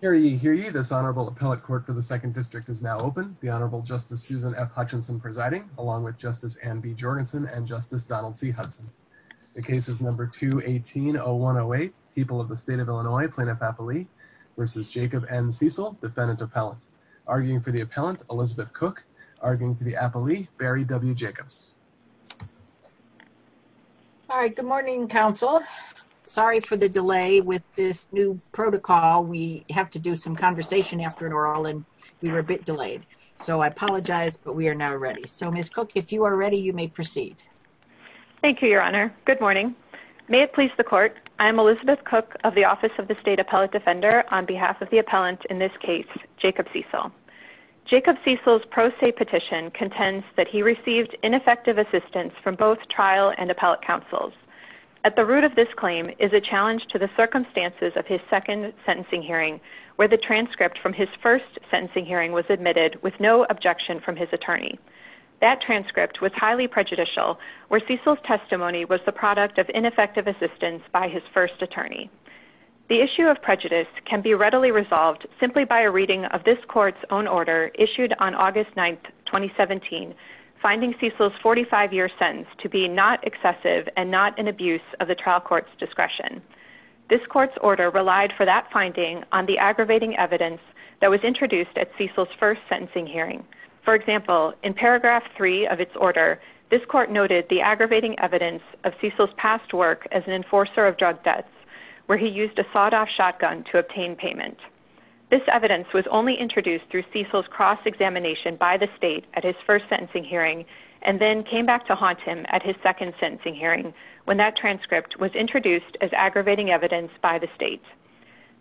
v. Jacob N. Cecil, defendant-appellant, arguing for the appellant Elizabeth Cook, arguing for the appellee Barry W. Jacobs. Good morning, counsel. Sorry for the delay with this new protocol. We have to do some conversation after it all, and we were a bit delayed. So I apologize, but we are now ready. So, Ms. Cook, if you are ready, you may proceed. Thank you, Your Honor. Good morning. May it please the Court, I am Elizabeth Cook of the Office of the State Appellate Defender on behalf of the appellant in this case, Jacob Cecil. Jacob Cecil's pro se petition contends that he received ineffective assistance from both trial and appellate counsels. At the root of this claim is a challenge to the circumstances of his second sentencing hearing, where the transcript from his first sentencing hearing was admitted with no objection from his attorney. That transcript was highly prejudicial, where Cecil's testimony was the product of ineffective assistance by his first attorney. The issue of on August 9, 2017, finding Cecil's 45-year sentence to be not excessive and not an abuse of the trial court's discretion. This court's order relied for that finding on the aggravating evidence that was introduced at Cecil's first sentencing hearing. For example, in paragraph 3 of its order, this court noted the aggravating evidence of Cecil's past work as an enforcer of drug debts, where he used a sawed-off shotgun to obtain payment. This evidence was only introduced through Cecil's cross-examination by the state at his first sentencing hearing and then came back to haunt him at his second sentencing hearing, when that transcript was introduced as aggravating evidence by the state.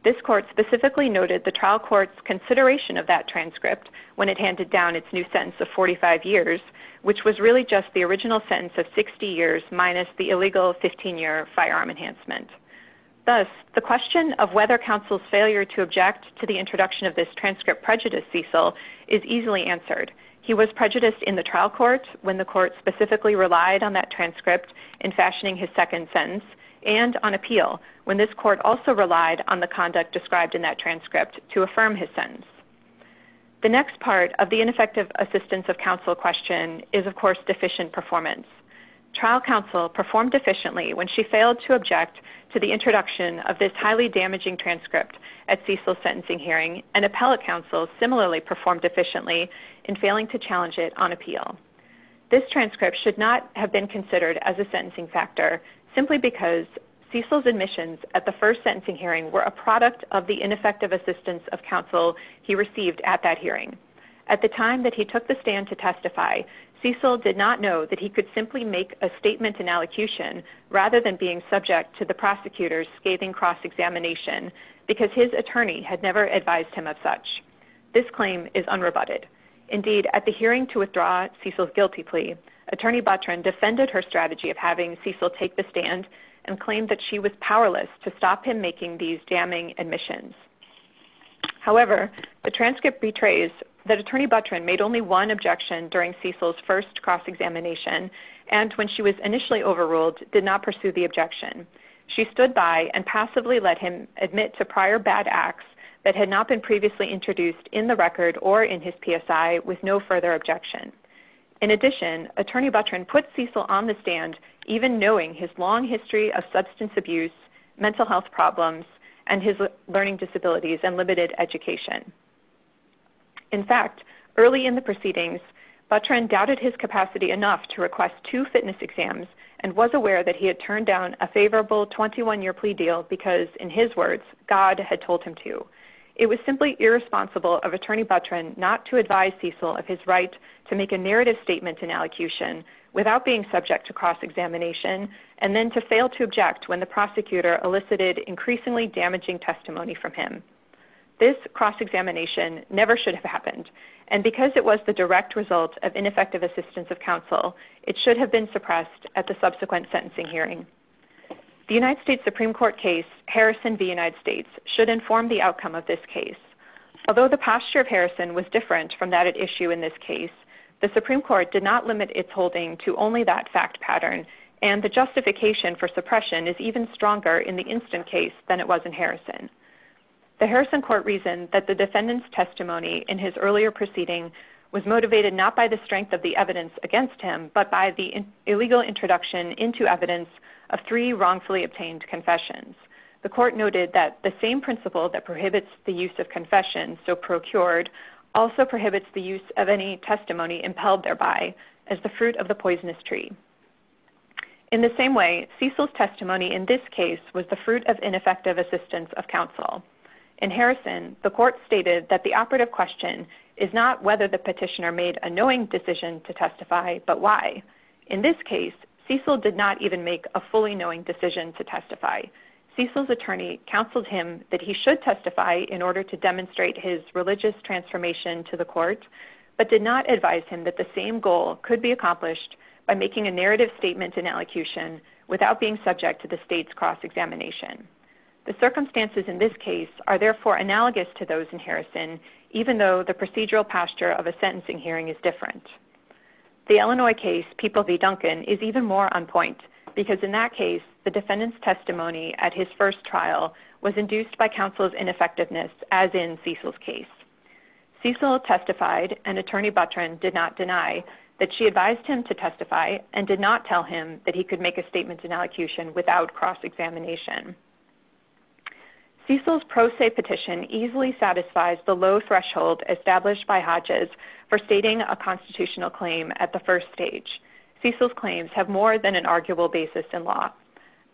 This court specifically noted the trial court's consideration of that transcript when it handed down its new sentence of 45 years, which was really just the original sentence of 60 years minus the illegal 15-year firearm enhancement. Thus, the question of whether counsel's failure to object to the introduction of this transcript prejudiced Cecil is easily answered. He was prejudiced in the trial court when the court specifically relied on that transcript in fashioning his second sentence and on appeal when this court also relied on the conduct described in that transcript to affirm his sentence. The next part of the ineffective assistance of counsel question is, of course, deficient performance. Trial counsel performed efficiently when she failed to object to the introduction of this highly damaging transcript at Cecil's sentencing hearing, and appellate counsel similarly performed efficiently in failing to challenge it on appeal. This transcript should not have been considered as a sentencing factor simply because Cecil's admissions at the first sentencing hearing were a product of the ineffective assistance of counsel he received at that hearing. At the time that he took the stand to testify, Cecil did not know that he could simply make a statement in allocution rather than being subject to the prosecutor's scathing cross-examination because his attorney had never advised him of such. This claim is unrebutted. Indeed, at the hearing to withdraw Cecil's guilty plea, Attorney Buttrin defended her strategy of having Cecil take the stand and claimed that she was powerless to stop him making these damning admissions. However, the transcript betrays that Attorney Buttrin made only one objection during Cecil's first cross-examination and when she was initially overruled did not pursue the objection. She stood by and passively let him admit to prior bad acts that had not been previously introduced in the record or in his PSI with no further objection. In addition, Attorney Buttrin put Cecil on the stand even knowing his long history of substance abuse, mental health problems, and his learning disabilities and early in the proceedings, Buttrin doubted his capacity enough to request two fitness exams and was aware that he had turned down a favorable 21-year plea deal because, in his words, God had told him to. It was simply irresponsible of Attorney Buttrin not to advise Cecil of his right to make a narrative statement in allocution without being subject to cross-examination and then to fail to object when the prosecutor elicited increasingly damaging testimony from him. This cross-examination never should have happened and because it was the direct result of ineffective assistance of counsel, it should have been suppressed at the subsequent sentencing hearing. The United States Supreme Court case, Harrison v. United States, should inform the outcome of this case. Although the posture of Harrison was different from that at issue in this case, the Supreme Court did not limit its holding to only that fact pattern and the justification for suppression is even stronger in the instant case than it was in Harrison. The Harrison court reasoned that the defendant's testimony in his earlier proceeding was motivated not by the strength of the evidence against him but by the illegal introduction into evidence of three wrongfully obtained confessions. The court noted that the same principle that prohibits the use of confession, so procured, also prohibits the use of any testimony impelled thereby as the Cecil's testimony in this case was the fruit of ineffective assistance of counsel. In Harrison, the court stated that the operative question is not whether the petitioner made a knowing decision to testify but why. In this case, Cecil did not even make a fully knowing decision to testify. Cecil's attorney counseled him that he should testify in order to demonstrate his religious transformation to the court but did not advise him that the same goal could be accomplished by making a narrative statement in elocution without being subject to the state's cross examination. The circumstances in this case are therefore analogous to those in Harrison even though the procedural posture of a sentencing hearing is different. The Illinois case, People v. Duncan, is even more on point because in that case, the defendant's testimony at his first trial was induced by counsel's ineffectiveness as in Cecil's attorney did not deny that she advised him to testify and did not tell him that he could make a statement in elocution without cross examination. Cecil's pro se petition easily satisfies the low threshold established by Hodges for stating a constitutional claim at the first stage. Cecil's claims have more than an arguable basis in law.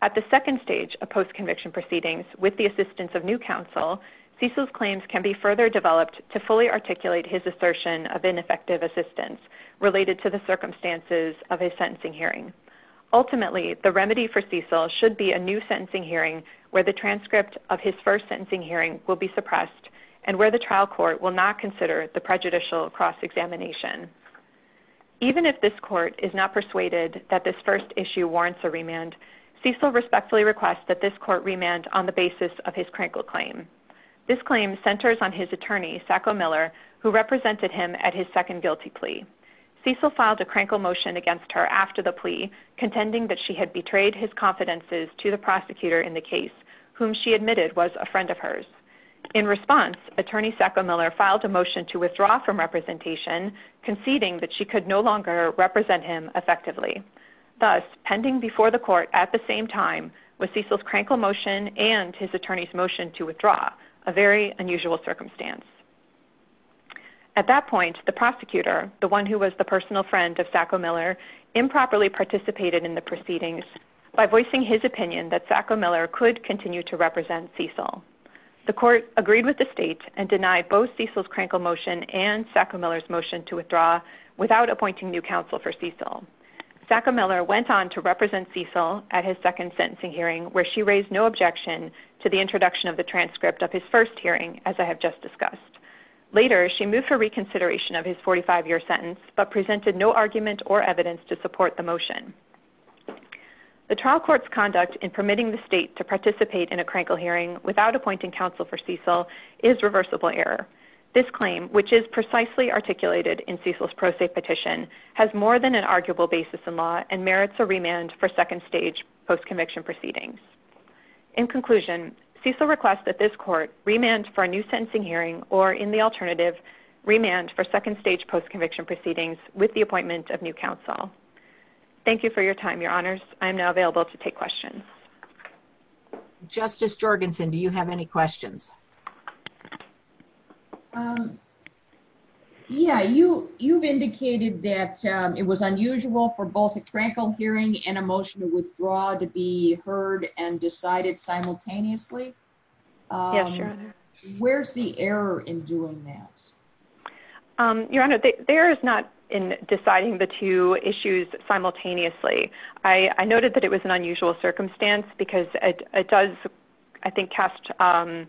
At the second stage of post conviction proceedings with the assistance of new counsel, Cecil's claims can be further developed to fully articulate his assertion of ineffective assistance related to the circumstances of his sentencing hearing. Ultimately, the remedy for Cecil should be a new sentencing hearing where the transcript of his first sentencing hearing will be suppressed and where the trial court will not consider the prejudicial cross examination. Even if this court is not persuaded that this first issue warrants a remand, Cecil respectfully requests that this court remand on the basis of his crankle claim. This claim centers on his attorney, Sacco Miller, who represented him at his second guilty plea. Cecil filed a crankle motion against her after the plea contending that she had betrayed his confidences to the prosecutor in the case whom she admitted was a friend of hers. In response, attorney Sacco Miller filed a motion to withdraw from representation conceding that she could no longer represent him effectively. Thus, pending before the court at the same time with Cecil's crankle motion and his attorney's motion to withdraw, a very unusual circumstance. At that point, the prosecutor, the one who was the personal friend of Sacco Miller, improperly participated in the proceedings by voicing his opinion that Sacco Miller could continue to represent Cecil. The court agreed with the state and denied both Cecil's crankle motion and Sacco Miller's motion to withdraw without appointing new counsel for Cecil. Sacco Miller went on to represent Cecil at his second sentencing hearing where she raised no objection to the introduction of the transcript of his first hearing, as I have just discussed. Later, she moved for reconsideration of his 45-year sentence but presented no argument or evidence to support the motion. The trial court's conduct in permitting the state to participate in a crankle hearing without appointing counsel for Cecil is reversible error. This claim, which is precisely articulated in Cecil's pro se petition, has more than an arguable basis in law and merits a remand for second-stage post-conviction proceedings. In conclusion, Cecil requests that this court remand for a new sentencing hearing or, in the alternative, remand for second-stage post-conviction proceedings with the appointment of new counsel. Thank you for your time, Your Honors. I am now available to take questions. Justice Jorgensen, do you have any questions? Yeah, you've indicated that it was unusual for both a crankle hearing and a motion to withdraw to be heard and decided simultaneously. Yes, Your Honor. Where's the error in doing that? Your Honor, the error is not in deciding the two issues simultaneously. I noted that it was an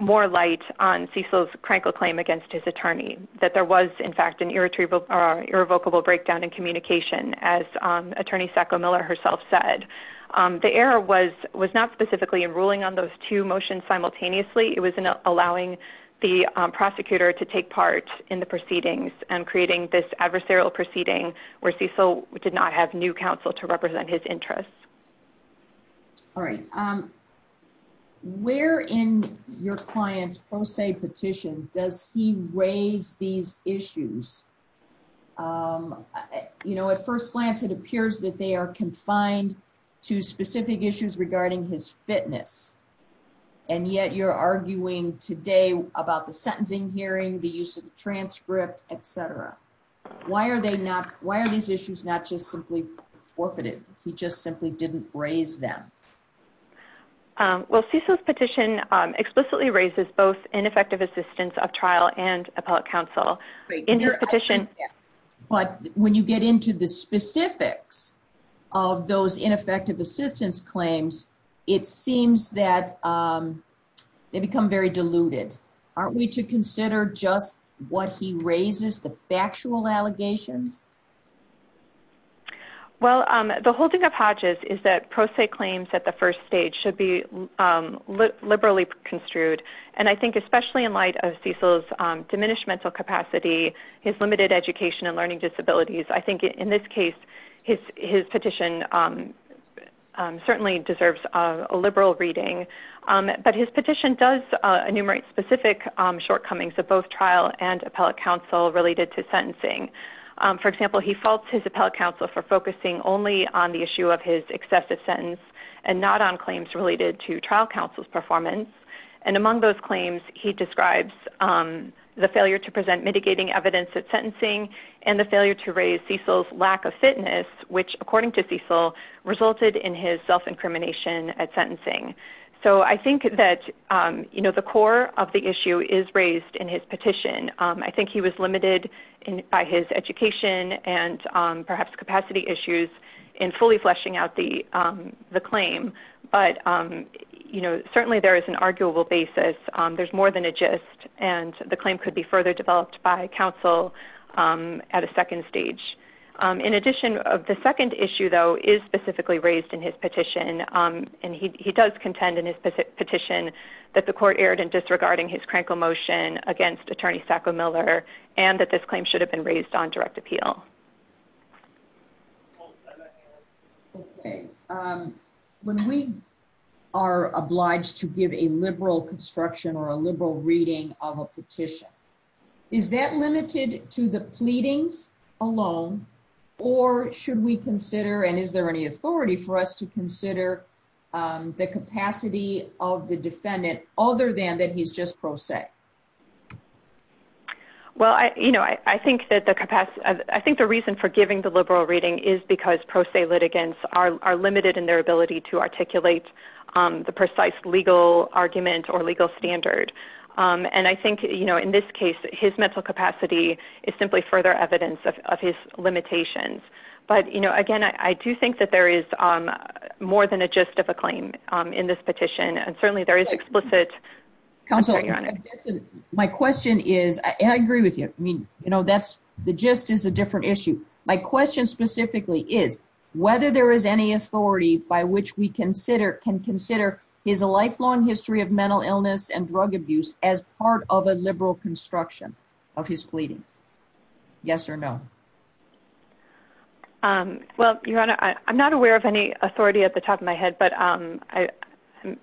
more light on Cecil's crankle claim against his attorney, that there was, in fact, an irrevocable breakdown in communication, as Attorney Sacco-Miller herself said. The error was not specifically in ruling on those two motions simultaneously. It was in allowing the prosecutor to take part in the proceedings and creating this adversarial proceeding where Cecil did not have new counsel to represent his interests. All right. Where in your client's pro se petition does he raise these issues? At first glance, it appears that they are confined to specific issues regarding his fitness, and yet you're arguing today about the sentencing hearing, the use of forfeited. He just simply didn't raise them. Well, Cecil's petition explicitly raises both ineffective assistance of trial and appellate counsel. But when you get into the specifics of those ineffective assistance claims, it seems that they become very diluted. Aren't we to consider just what he raises, the factual allegations? Well, the holding of Hodges is that pro se claims at the first stage should be liberally construed. And I think especially in light of Cecil's diminished mental capacity, his limited education and learning disabilities, I think in this case, his petition certainly deserves a liberal reading. But his petition does enumerate specific shortcomings of both trial and For example, he faults his appellate counsel for focusing only on the issue of his excessive sentence and not on claims related to trial counsel's performance. And among those claims, he describes the failure to present mitigating evidence at sentencing and the failure to raise Cecil's lack of fitness, which according to Cecil, resulted in his self-incrimination at sentencing. So I think that the core of the issue is raised in his petition. I think he was limited by his education and perhaps capacity issues in fully fleshing out the claim. But, you know, certainly there is an arguable basis. There's more than a gist. And the claim could be further developed by counsel at a second stage. In addition, the second issue, though, is specifically raised in his petition. And he does contend in his petition that the court claims should have been raised on direct appeal. Okay. When we are obliged to give a liberal construction or a liberal reading of a petition, is that limited to the pleadings alone? Or should we consider and is there any authority for us to consider the capacity of the defendant, other than that he's just pro se? Well, I, you know, I think that the capacity, I think the reason for giving the liberal reading is because pro se litigants are limited in their ability to articulate the precise legal argument or legal standard. And I think, you know, in this case, his mental capacity is simply further evidence of his limitations. But, you know, again, I do think that there is more than a gist of a claim in this petition. And certainly there is explicit counsel. My question is, I agree with you. I mean, you know, that's the gist is a different issue. My question specifically is, whether there is any authority by which we consider can consider his a lifelong history of mental illness and drug abuse as part of a liberal construction of his pleadings? Yes or no? Well, Your Honor, I'm not aware of any authority at the top of my head. But I mean,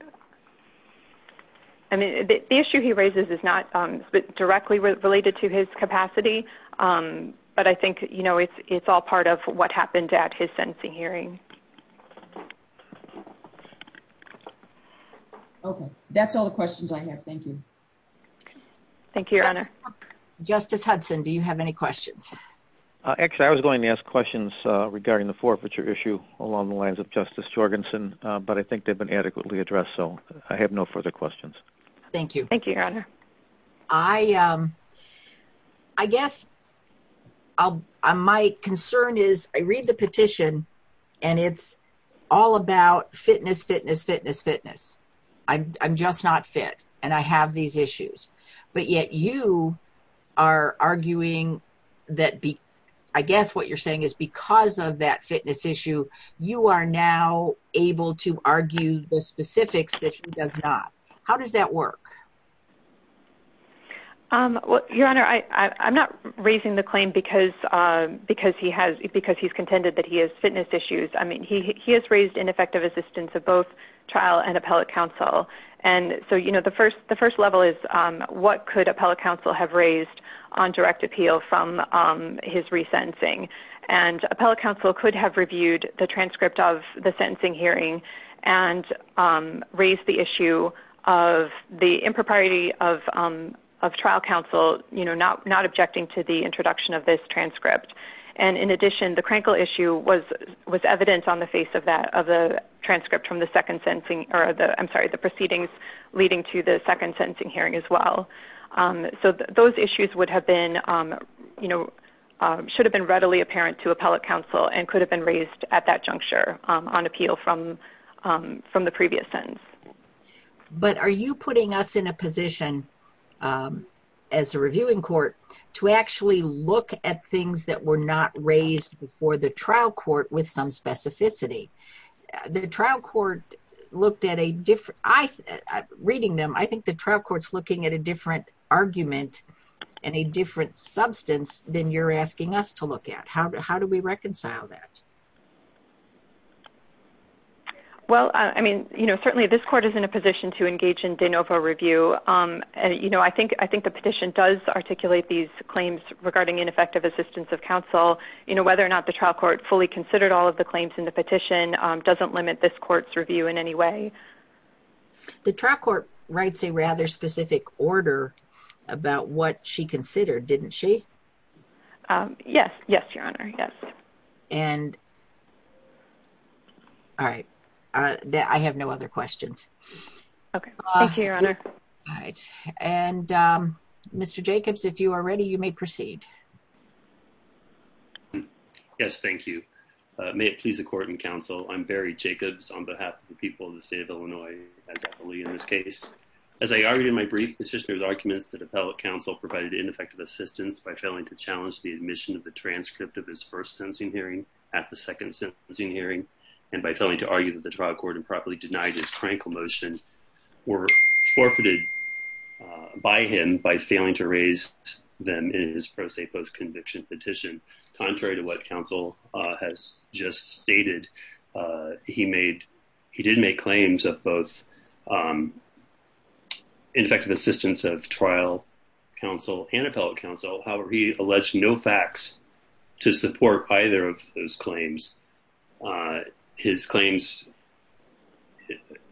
the issue he raises is not directly related to his capacity. But I think, you know, it's all part of what happened at his sentencing hearing. Okay, that's all the questions I have. Thank you. Thank you, Your Honor. Justice Hudson, do you have any questions? Actually, I was going to ask questions regarding the forfeiture issue along the lines of Justice Jorgensen. But I think they've been adequately addressed. So I have no further questions. Thank you. Thank you, Your Honor. I guess my concern is I read the petition. And it's all about fitness, fitness, fitness, fitness. I'm just not fit. And I have these issues. But yet you are arguing that be, I guess what you're saying is because of that fitness issue, you are now able to argue the specifics that he does not. How does that work? Well, Your Honor, I'm not raising the claim because he's contended that he has fitness issues. I mean, he has raised ineffective assistance of both trial and appellate counsel. And so, you know, the first level is, what could appellate counsel have raised on direct appeal from his resentencing? And appellate counsel could have reviewed the transcript of the sentencing hearing and raised the issue of the impropriety of trial counsel, you know, not objecting to the introduction of this transcript. And in addition, the crankle issue was evidence on the face of that, of the transcript from the second sentencing, or the, I'm sorry, the proceedings leading to the second sentencing hearing as well. So those issues would have been, you know, should have been readily apparent to appellate counsel and could have been raised at that juncture on appeal from the previous sentence. But are you putting us in a position as a reviewing court to actually look at things that were not raised before the trial court with some specificity? The trial court looked at a different, reading them, I think the trial court's looking at a different argument and a different substance than you're asking us to look at. How do we reconcile that? Well, I mean, you know, certainly this court is in a position to engage in de novo review. And, you know, I think the petition does articulate these claims regarding ineffective assistance of counsel. You know, whether or not the trial court fully considered all of the claims in the petition doesn't limit this court's review in any way. The trial court writes a rather specific order about what she considered, didn't she? Yes. Yes, Your Honor. Yes. And... All right. I have no other questions. Okay. Thank you, Your Honor. All right. And Mr. Jacobs, if you are ready, you may proceed. Yes. Thank you. May it please the court and counsel, I'm Barry Jacobs on behalf of the people of the state of Illinois, as I believe in this case. As I argued in my brief, the petitioner's argument is that appellate counsel provided ineffective assistance by failing to challenge the admission of the transcript of his first sentencing hearing at the second sentencing hearing and by failing to argue that the trial court improperly denied his tranquil motion were forfeited by him by failing to raise them in his pro se post-conviction petition. Contrary to what counsel has just stated, he did make claims of both ineffective assistance of trial counsel and appellate counsel. However, he alleged no facts to support either of those claims. His claims,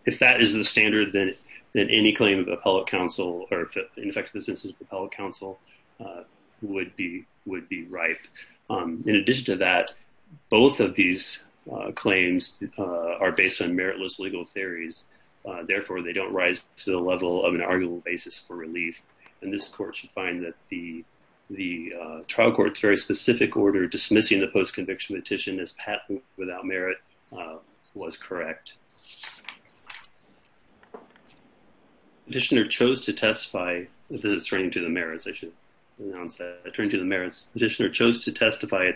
if that is the standard, then any claim of appellate counsel or ineffective assistance of appellate counsel would be ripe. In addition to that, both of these claims are based on meritless legal theories. Therefore, they don't rise to the order dismissing the post-conviction petition as patent without merit was correct. The petitioner chose to testify at the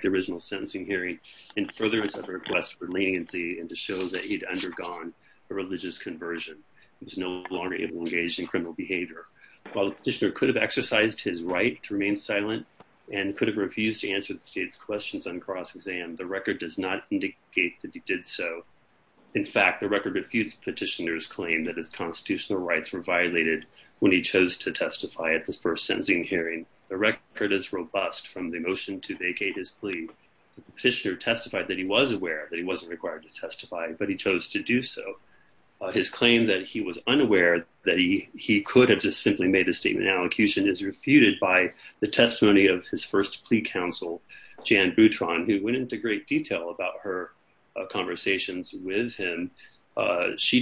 original sentencing hearing in furtherance of a request for leniency and to show that he'd undergone a religious conversion. He was no longer able to engage in criminal behavior. While the petitioner could have exercised his right to remain silent and could have refused to answer the state's questions on cross-exam, the record does not indicate that he did so. In fact, the record refutes petitioner's claim that his constitutional rights were violated when he chose to testify at this first sentencing hearing. The record is robust from the motion to vacate his plea. The petitioner testified that he was aware that he wasn't required to testify, but he chose to do so. His claim that he was unaware that he could have just simply made a statement in allocution is refuted by the testimony of his first plea counsel, Jan Boutron, who went into great detail about her conversations with him. She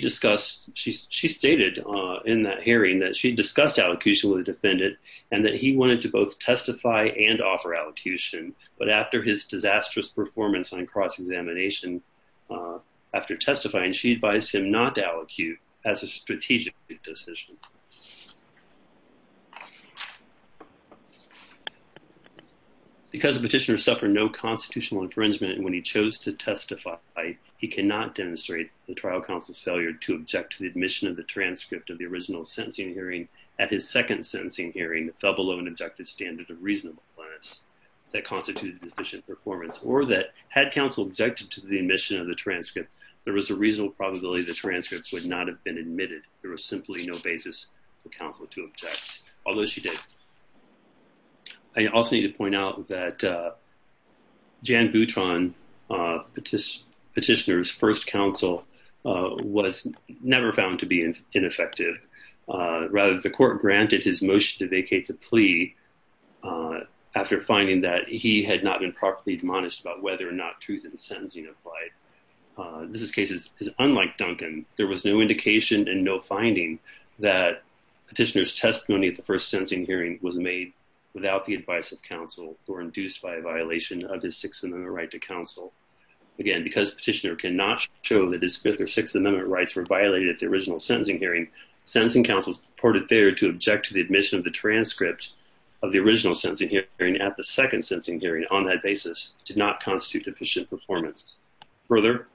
stated in that hearing that she discussed allocution with the defendant and that he wanted to both testify and offer allocution, but after his disastrous performance on cross-examination, after testifying, she advised him not to allocute as a strategic decision. Because the petitioner suffered no constitutional infringement when he chose to testify, he cannot demonstrate the trial counsel's failure to object to the admission of the transcript of the original sentencing hearing at his second sentencing hearing that fell below an objective standard of reasonable evidence that constituted deficient performance or that had counsel objected to the admission of the transcript, there was a reasonable probability the transcripts would not have been admitted. There was simply no basis for counsel to object, although she did. I also need to point out that Jan Boutron, petitioner's first counsel, was never found to be ineffective. Rather, the court granted his motion to vacate the plea after finding that he had not been properly admonished about whether or not truth in the sentencing applied. This case is unlike Duncan. There was no indication and no finding that petitioner's testimony at the first sentencing hearing was made without the advice of counsel or induced by a violation of his Sixth Amendment right to counsel. Again, because petitioner cannot show that his Fifth or Sixth Amendment rights were violated at the original sentencing hearing, sentencing counsel's purported failure to object to the admission of the transcript of the original sentencing hearing at the second sentencing hearing on that basis did not constitute deficient performance. Further,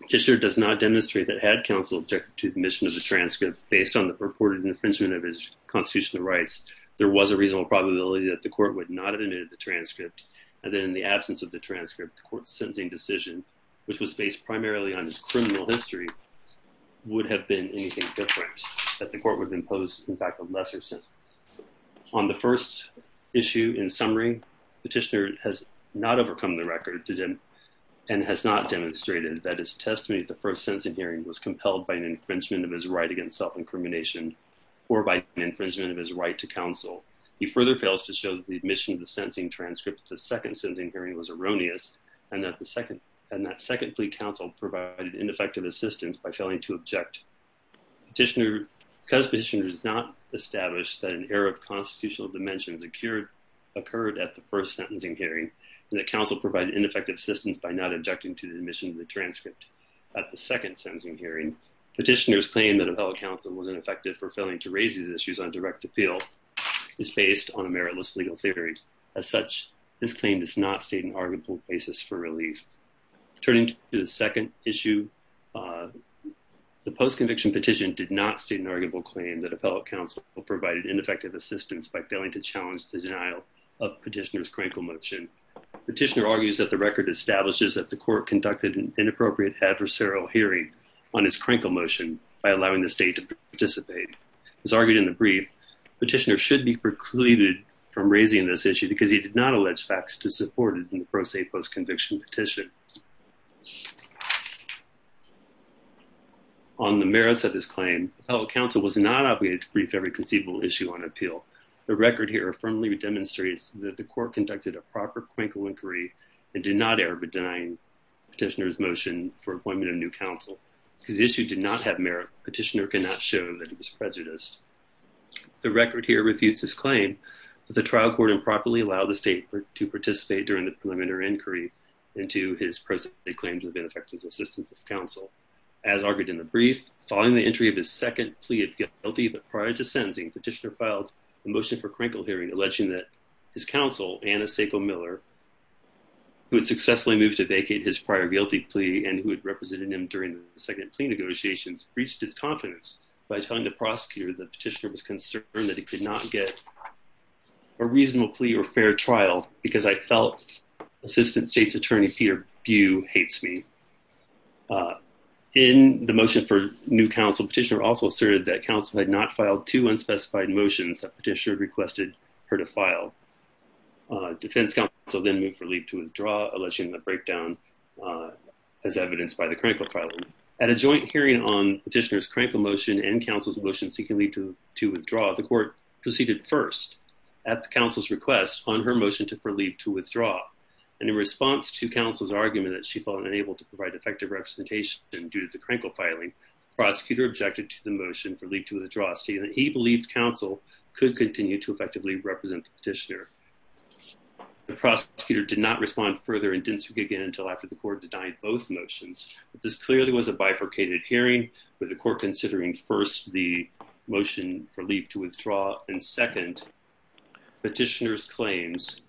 petitioner does not demonstrate that had counsel objected to the admission of the transcript based on the purported infringement of his constitutional rights, there was a reasonable probability that the court would not have admitted the transcript, and that in the absence of the transcript, the court's sentencing decision, which was based primarily on his criminal history, would have been anything different, that the court would have imposed, in fact, a lesser sentence. On the first issue, in summary, petitioner has not overcome the record and has not demonstrated that his testimony at the first sentencing hearing was compelled by an infringement of his right against self-incrimination or by an infringement of his right to counsel. He further fails to show that the admission of the sentencing transcript at the second sentencing hearing was erroneous and that second plea counsel provided ineffective assistance by failing to object. Petitioner does not establish that an error of hearing and that counsel provided ineffective assistance by not objecting to the admission of the transcript at the second sentencing hearing. Petitioner's claim that appellate counsel was ineffective for failing to raise these issues on direct appeal is based on a meritless legal theory. As such, this claim does not state an arguable basis for relief. Turning to the second issue, the post-conviction petition did not state an arguable claim that appellate counsel provided ineffective assistance by failing to challenge the denial of petitioner's crinkle motion. Petitioner argues that the record establishes that the court conducted an inappropriate adversarial hearing on his crinkle motion by allowing the state to participate. As argued in the brief, petitioner should be precluded from raising this issue because he did not allege facts to support it in the pro se post-conviction petition. On the merits of this claim, appellate counsel was not obligated to brief every conceivable issue on appeal. The record here firmly demonstrates that the court conducted a proper crinkle inquiry and did not err by denying petitioner's motion for appointment of new counsel. Because the issue did not have merit, petitioner cannot show that he was prejudiced. The record here refutes his claim that the trial court improperly allowed the state to participate during the preliminary inquiry into his present claims of ineffective assistance of counsel. As argued in the brief, following the entry of his second plea of guilty but prior to sentencing, petitioner filed a motion for crinkle hearing alleging that his counsel, Anna Sacco-Miller, who had successfully moved to vacate his prior guilty plea and who had represented him during the second plea negotiations, breached his confidence by telling the prosecutor the petitioner was concerned that he could not get a reasonable plea or fair trial because I felt assistant state's attorney Peter Bue hates me. In the motion for new counsel, petitioner also asserted that counsel had not filed two unspecified motions that petitioner requested her to file. Defense counsel then moved for leave to withdraw alleging the breakdown as evidenced by the crinkle filing. At a joint hearing on petitioner's crinkle motion and counsel's motion seeking leave to withdraw, the court proceeded first at the counsel's request on her motion to for leave to withdraw. And in response to counsel's argument that she felt unable to provide effective representation due to the crinkle filing, prosecutor objected to the motion for leave to withdraw stating that he believed counsel could continue to effectively represent the petitioner. The prosecutor did not respond further and didn't speak again until after the court denied both motions. This clearly was a first the motion for leave to withdraw and second petitioner's claims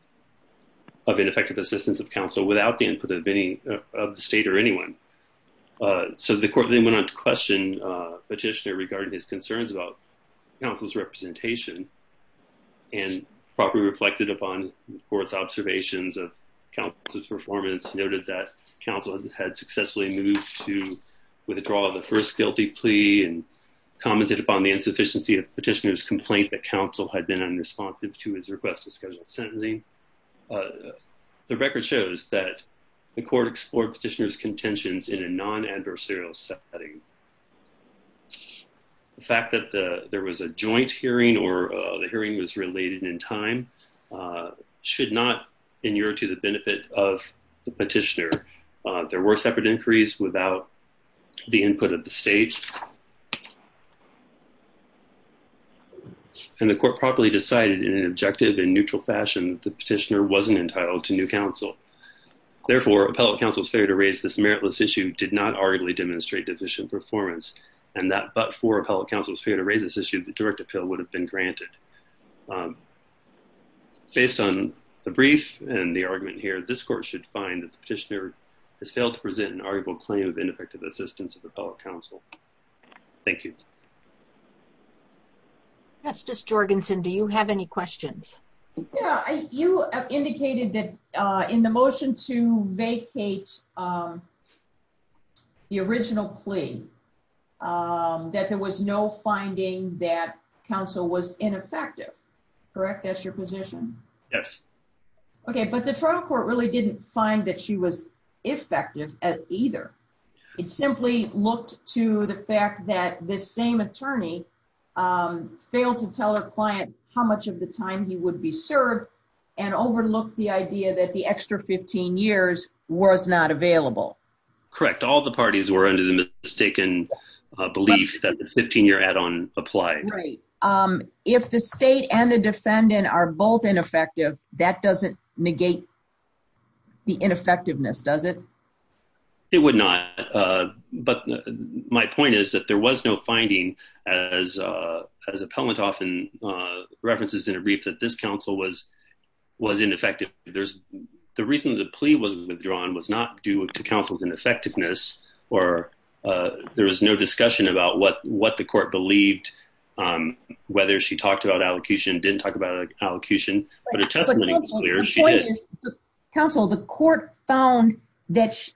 of ineffective assistance of counsel without the input of any of the state or anyone. So the court then went on to question petitioner regarding his concerns about counsel's representation and probably reflected upon the court's observations of counsel's performance noted that counsel had successfully moved to commented upon the insufficiency of petitioner's complaint that counsel had been unresponsive to his request to schedule sentencing. The record shows that the court explored petitioner's contentions in a non-adversarial setting. The fact that there was a joint hearing or the hearing was related in time should not inure to the benefit of the petitioner. There were separate inquiries without the input of the state and the court properly decided in an objective and neutral fashion that the petitioner wasn't entitled to new counsel. Therefore appellate counsel's failure to raise this meritless issue did not arguably demonstrate deficient performance and that but for appellate counsel's failure to raise this issue the direct appeal would have been granted. Based on the brief and the argument here this court should find that the petitioner failed to present an arguable claim of ineffective assistance of appellate counsel. Thank you. Justice Jorgensen do you have any questions? Yeah you have indicated that in the motion to vacate the original plea that there was no finding that counsel was ineffective. Correct that's your position? Yes. Okay but the trial court really didn't find that she was effective at either. It simply looked to the fact that this same attorney failed to tell her client how much of the time he would be served and overlooked the idea that the extra 15 years was not available. Correct all the parties were under the mistaken belief that the 15-year add-on applied. Right. If the state and the defendant are both ineffective that doesn't negate the ineffectiveness does it? It would not but my point is that there was no finding as as appellant often references in a brief that this counsel was was ineffective. There's the reason the plea was withdrawn was not due to counsel's ineffectiveness or there was no discussion about what what the court believed whether she talked about allocution didn't talk about allocution but her testimony was clear she did. Counsel the court found that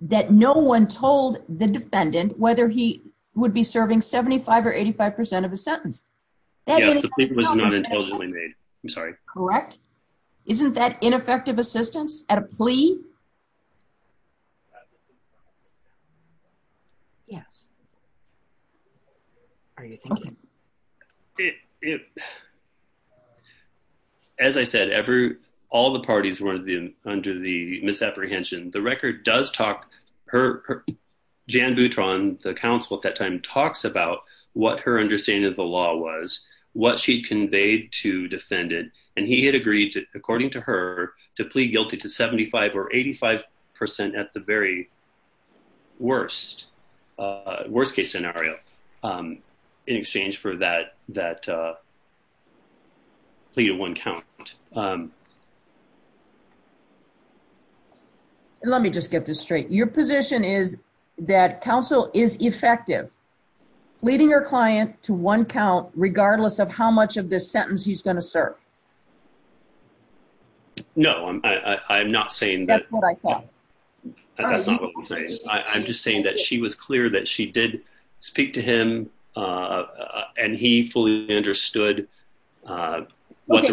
that no one told the defendant whether he would be serving 75 or 85 percent of a sentence. Yes the plea was not intelligently made I'm sorry. Correct isn't that ineffective assistance at a plea? Yes. Are you thinking it as I said every all the parties were under the misapprehension the record does talk her Jan Boutron the counsel at that time talks about what her understanding of the law was what she conveyed to defendant and he had agreed to according to her to plea guilty to 75 or 85 percent at the very worst worst case scenario in exchange for that that plea to one count. Let me just get this straight your position is that counsel is effective leading your client to one count regardless of how much of this sentence he's going to serve? No I'm I'm not saying that that's not what I'm saying I'm just saying that she was clear that she did speak to him uh and he fully understood uh what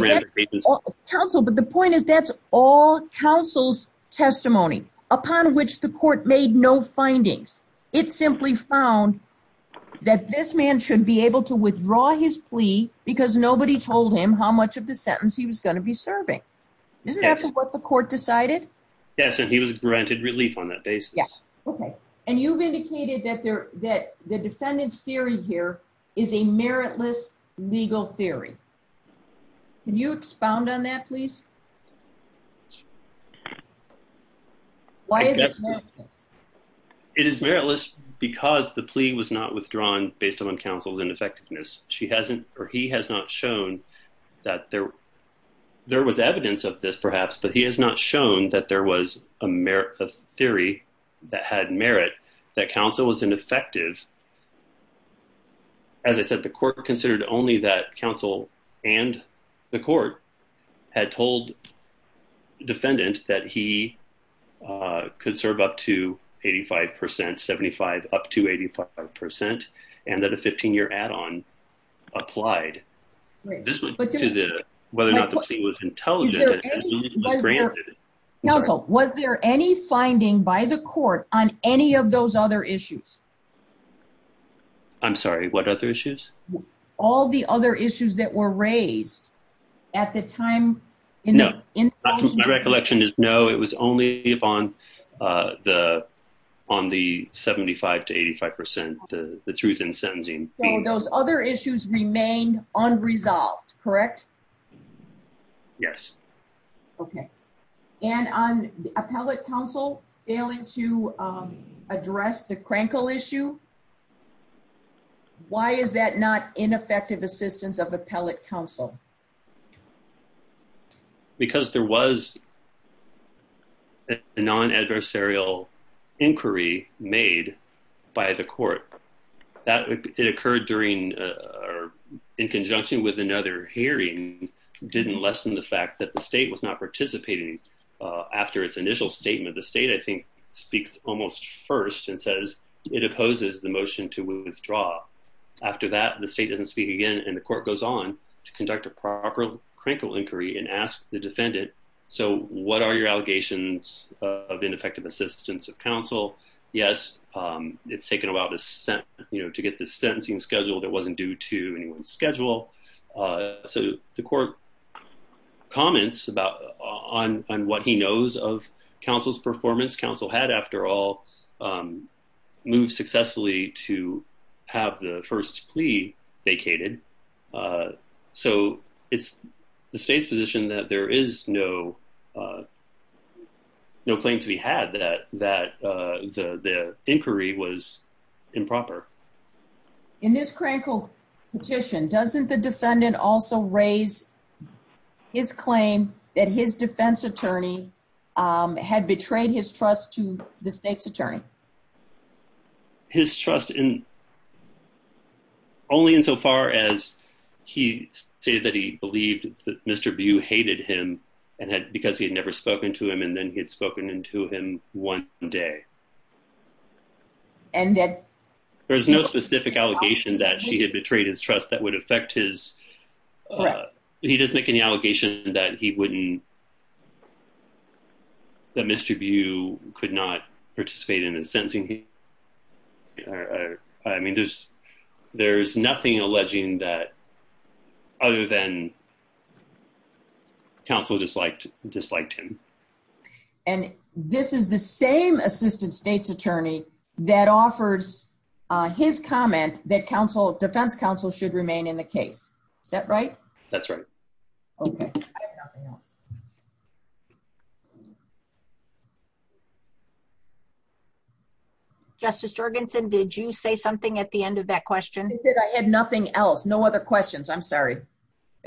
counsel but the point is that's all counsel's testimony upon which the court made no findings it simply found that this man should be able to withdraw his plea because nobody told him how much of the sentence he was going to be serving. Isn't that what the court decided? Yes and he was granted relief on that basis. Yes okay and you've indicated that there that the defendant's theory here is a meritless legal theory can you expound on that please? Why is it meritless? It is meritless because the plea was not withdrawn based on counsel's ineffectiveness. She hasn't or he has not shown that there there was evidence of this perhaps but he has not shown that there was a merit of theory that had merit that counsel was ineffective. As I said the court considered only that counsel and the court had told defendant that he could serve up to 85 percent 75 up to 85 percent and that a 15-year add-on applied to the whether or not the plea was intelligent. Counsel was there any finding by the court on any of those other issues? I'm sorry what other issues? All the other issues that were raised at the time? No my recollection is no it was only upon the on the 75 to 85 percent the the truth in sentencing. So those other issues remain unresolved correct? Yes. Okay and on the appellate counsel failing to address the crankle issue why is that not ineffective assistance of appellate counsel? Because there was a non-adversarial inquiry made by the court that it occurred during in conjunction with another hearing didn't lessen the fact that the state was not participating after its initial statement the state I think speaks almost first and says it opposes the motion to withdraw. After that the state doesn't speak again and the court goes on to conduct a proper crankle inquiry and ask the defendant so what are your allegations of ineffective assistance of counsel? Yes it's taken a while to set you know to get the sentencing scheduled it wasn't due to anyone's schedule. So the court comments about on what he knows of counsel's performance. Counsel had after all moved successfully to have the first plea vacated. So it's the state's position that there is no no claim to be had that that the the inquiry was improper. In this crankle petition doesn't the defendant also raise his claim that his defense attorney had betrayed his trust to the state's attorney? His trust in only in so far as he stated that he believed that Mr. Bew hated him and had because he had never spoken to him and then he had spoken into him one day. And that there's no specific allegation that she had betrayed his trust that would affect his he doesn't make any allegation that he wouldn't that Mr. Bew could not participate in his sentencing. I mean there's there's nothing alleging that other than counsel disliked disliked him. And this is the same assistant state's attorney that offers uh his comment that counsel defense counsel should remain in the case. Is that right? That's right. Okay I have nothing else. Justice Jorgensen did you say something at the end of that question? I said I had nothing else no other questions I'm sorry.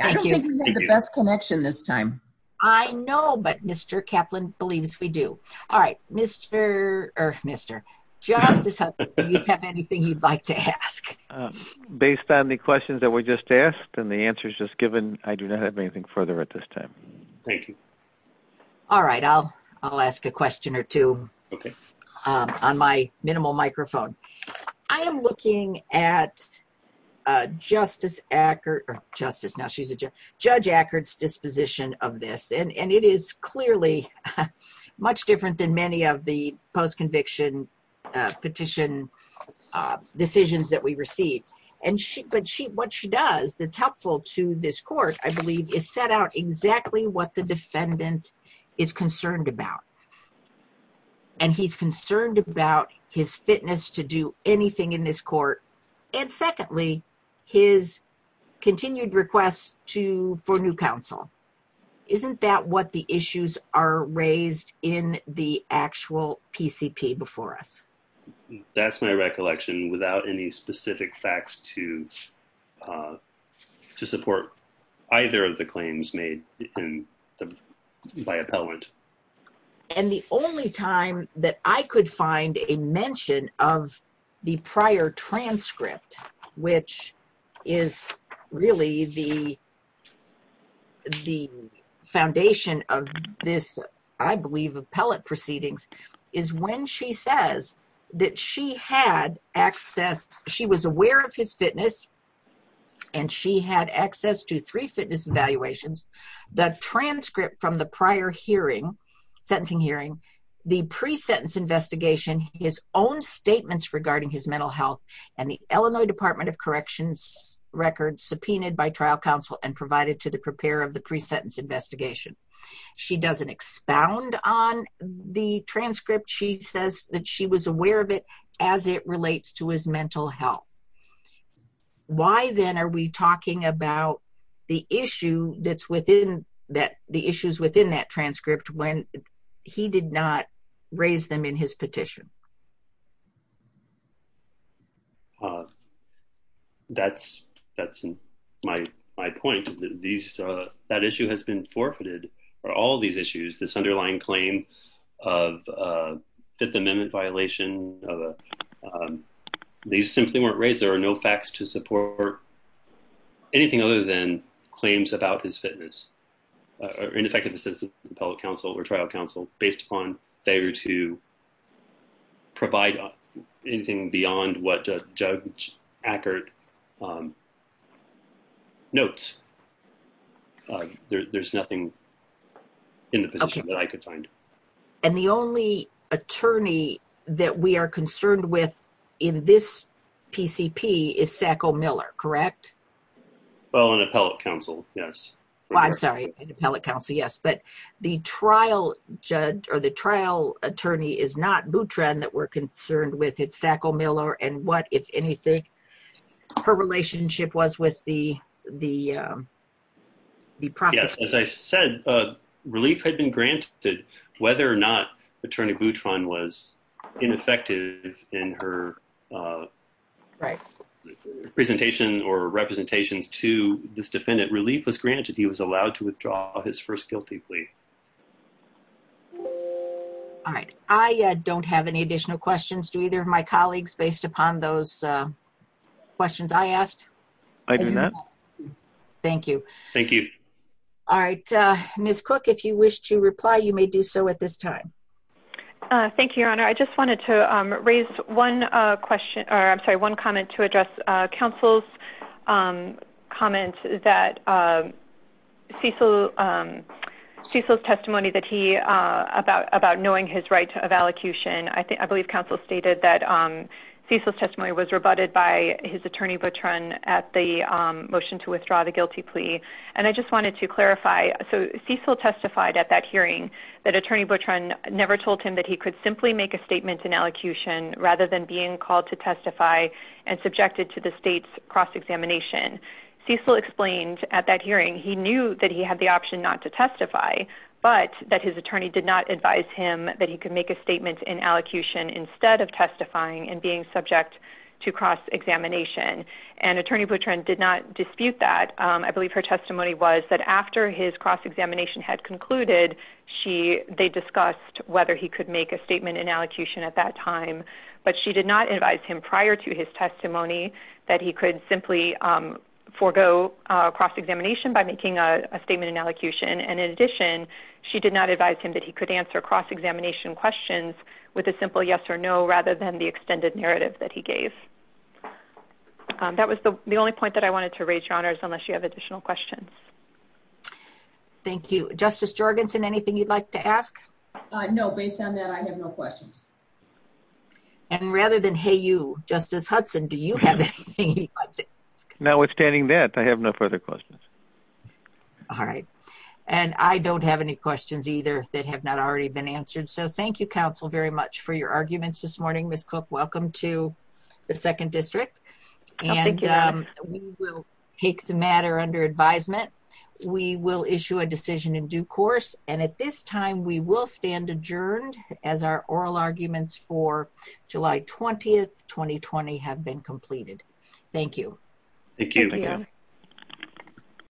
I don't think we have the best connection this time. I know but Mr. Kaplan believes we do. All right Mr. or Mr. Justice do you have anything you'd like to ask? Based on the questions that were just asked and the answers just given I do not have anything further at this time. Thank you. All right I'll I'll ask a question or two. Okay. On my minimal microphone. I am looking at uh Justice Ackert or Justice now she's a judge. Judge Ackert's disposition of this and and it is clearly much different than many of the post-conviction petition decisions that we receive. And she but she what she does that's helpful to this court I believe is set out exactly what the defendant is concerned about. And he's concerned about his fitness to do anything in this court and secondly his continued requests to for new counsel. Isn't that what the issues are raised in the actual PCP before us? That's my recollection without any specific facts to uh to support either of the claims made in by appellant. And the only time that I could find a mention of the prior transcript which is really the the foundation of this I believe appellate proceedings is when she says that she had access she was aware of his fitness and she had access to three fitness evaluations. The transcript from the prior hearing sentencing hearing the pre-sentence investigation his own statements regarding his mental health and the Illinois Department of Corrections record subpoenaed by trial counsel and provided to the preparer of the pre-sentence investigation. She doesn't expound on the transcript she says that she was aware of it as it relates to his that the issues within that transcript when he did not raise them in his petition. Uh that's that's my my point these uh that issue has been forfeited for all these issues this underlying claim of a fifth amendment violation of a these simply weren't raised there are no facts to support anything other than claims about his fitness or ineffective assistance appellate counsel or trial counsel based upon failure to provide anything beyond what Judge Ackert notes. There's nothing in the position that I could find. And the only attorney that we are concerned with in this PCP is Sacco Miller correct? Well an appellate counsel yes. Well I'm sorry an appellate counsel yes but the trial judge or the trial attorney is not Boutron that we're concerned with it's Sacco Miller and what if anything her relationship was with the the um the process. As I said uh relief had been granted whether or not in her uh right presentation or representations to this defendant relief was granted he was allowed to withdraw his first guilty plea. All right I uh don't have any additional questions to either of my colleagues based upon those uh questions I asked. I do not. Thank you. Thank you. All right uh Ms. Cook if you wish to reply you may do so at this time. Thank you your honor I just wanted to um raise one uh question or I'm sorry one comment to address uh counsel's um comment that uh Cecil um Cecil's testimony that he uh about about knowing his right of allocution I think I believe counsel stated that um Cecil's testimony was rebutted by his attorney Boutron at the um motion to withdraw the guilty plea and I just wanted to clarify so Cecil testified at that hearing that attorney Boutron never told him that he could simply make a statement in allocution rather than being called to testify and subjected to the state's cross-examination. Cecil explained at that hearing he knew that he had the option not to testify but that his attorney did not advise him that he could make a statement in allocution instead of testifying and being subject to cross-examination and attorney Boutron did not dispute that um I had concluded she they discussed whether he could make a statement in allocution at that time but she did not advise him prior to his testimony that he could simply um forego a cross-examination by making a statement in allocution and in addition she did not advise him that he could answer cross-examination questions with a simple yes or no rather than the extended narrative that he gave. That was the the only point that I wanted to raise your honors unless you have additional questions. Thank you. Justice Jorgensen anything you'd like to ask? Uh no based on that I have no questions. And rather than hey you Justice Hudson do you have anything? Notwithstanding that I have no further questions. All right and I don't have any questions either that have not already been answered so thank you counsel very much for your take the matter under advisement. We will issue a decision in due course and at this time we will stand adjourned as our oral arguments for July 20th 2020 have been completed. Thank you. Thank you.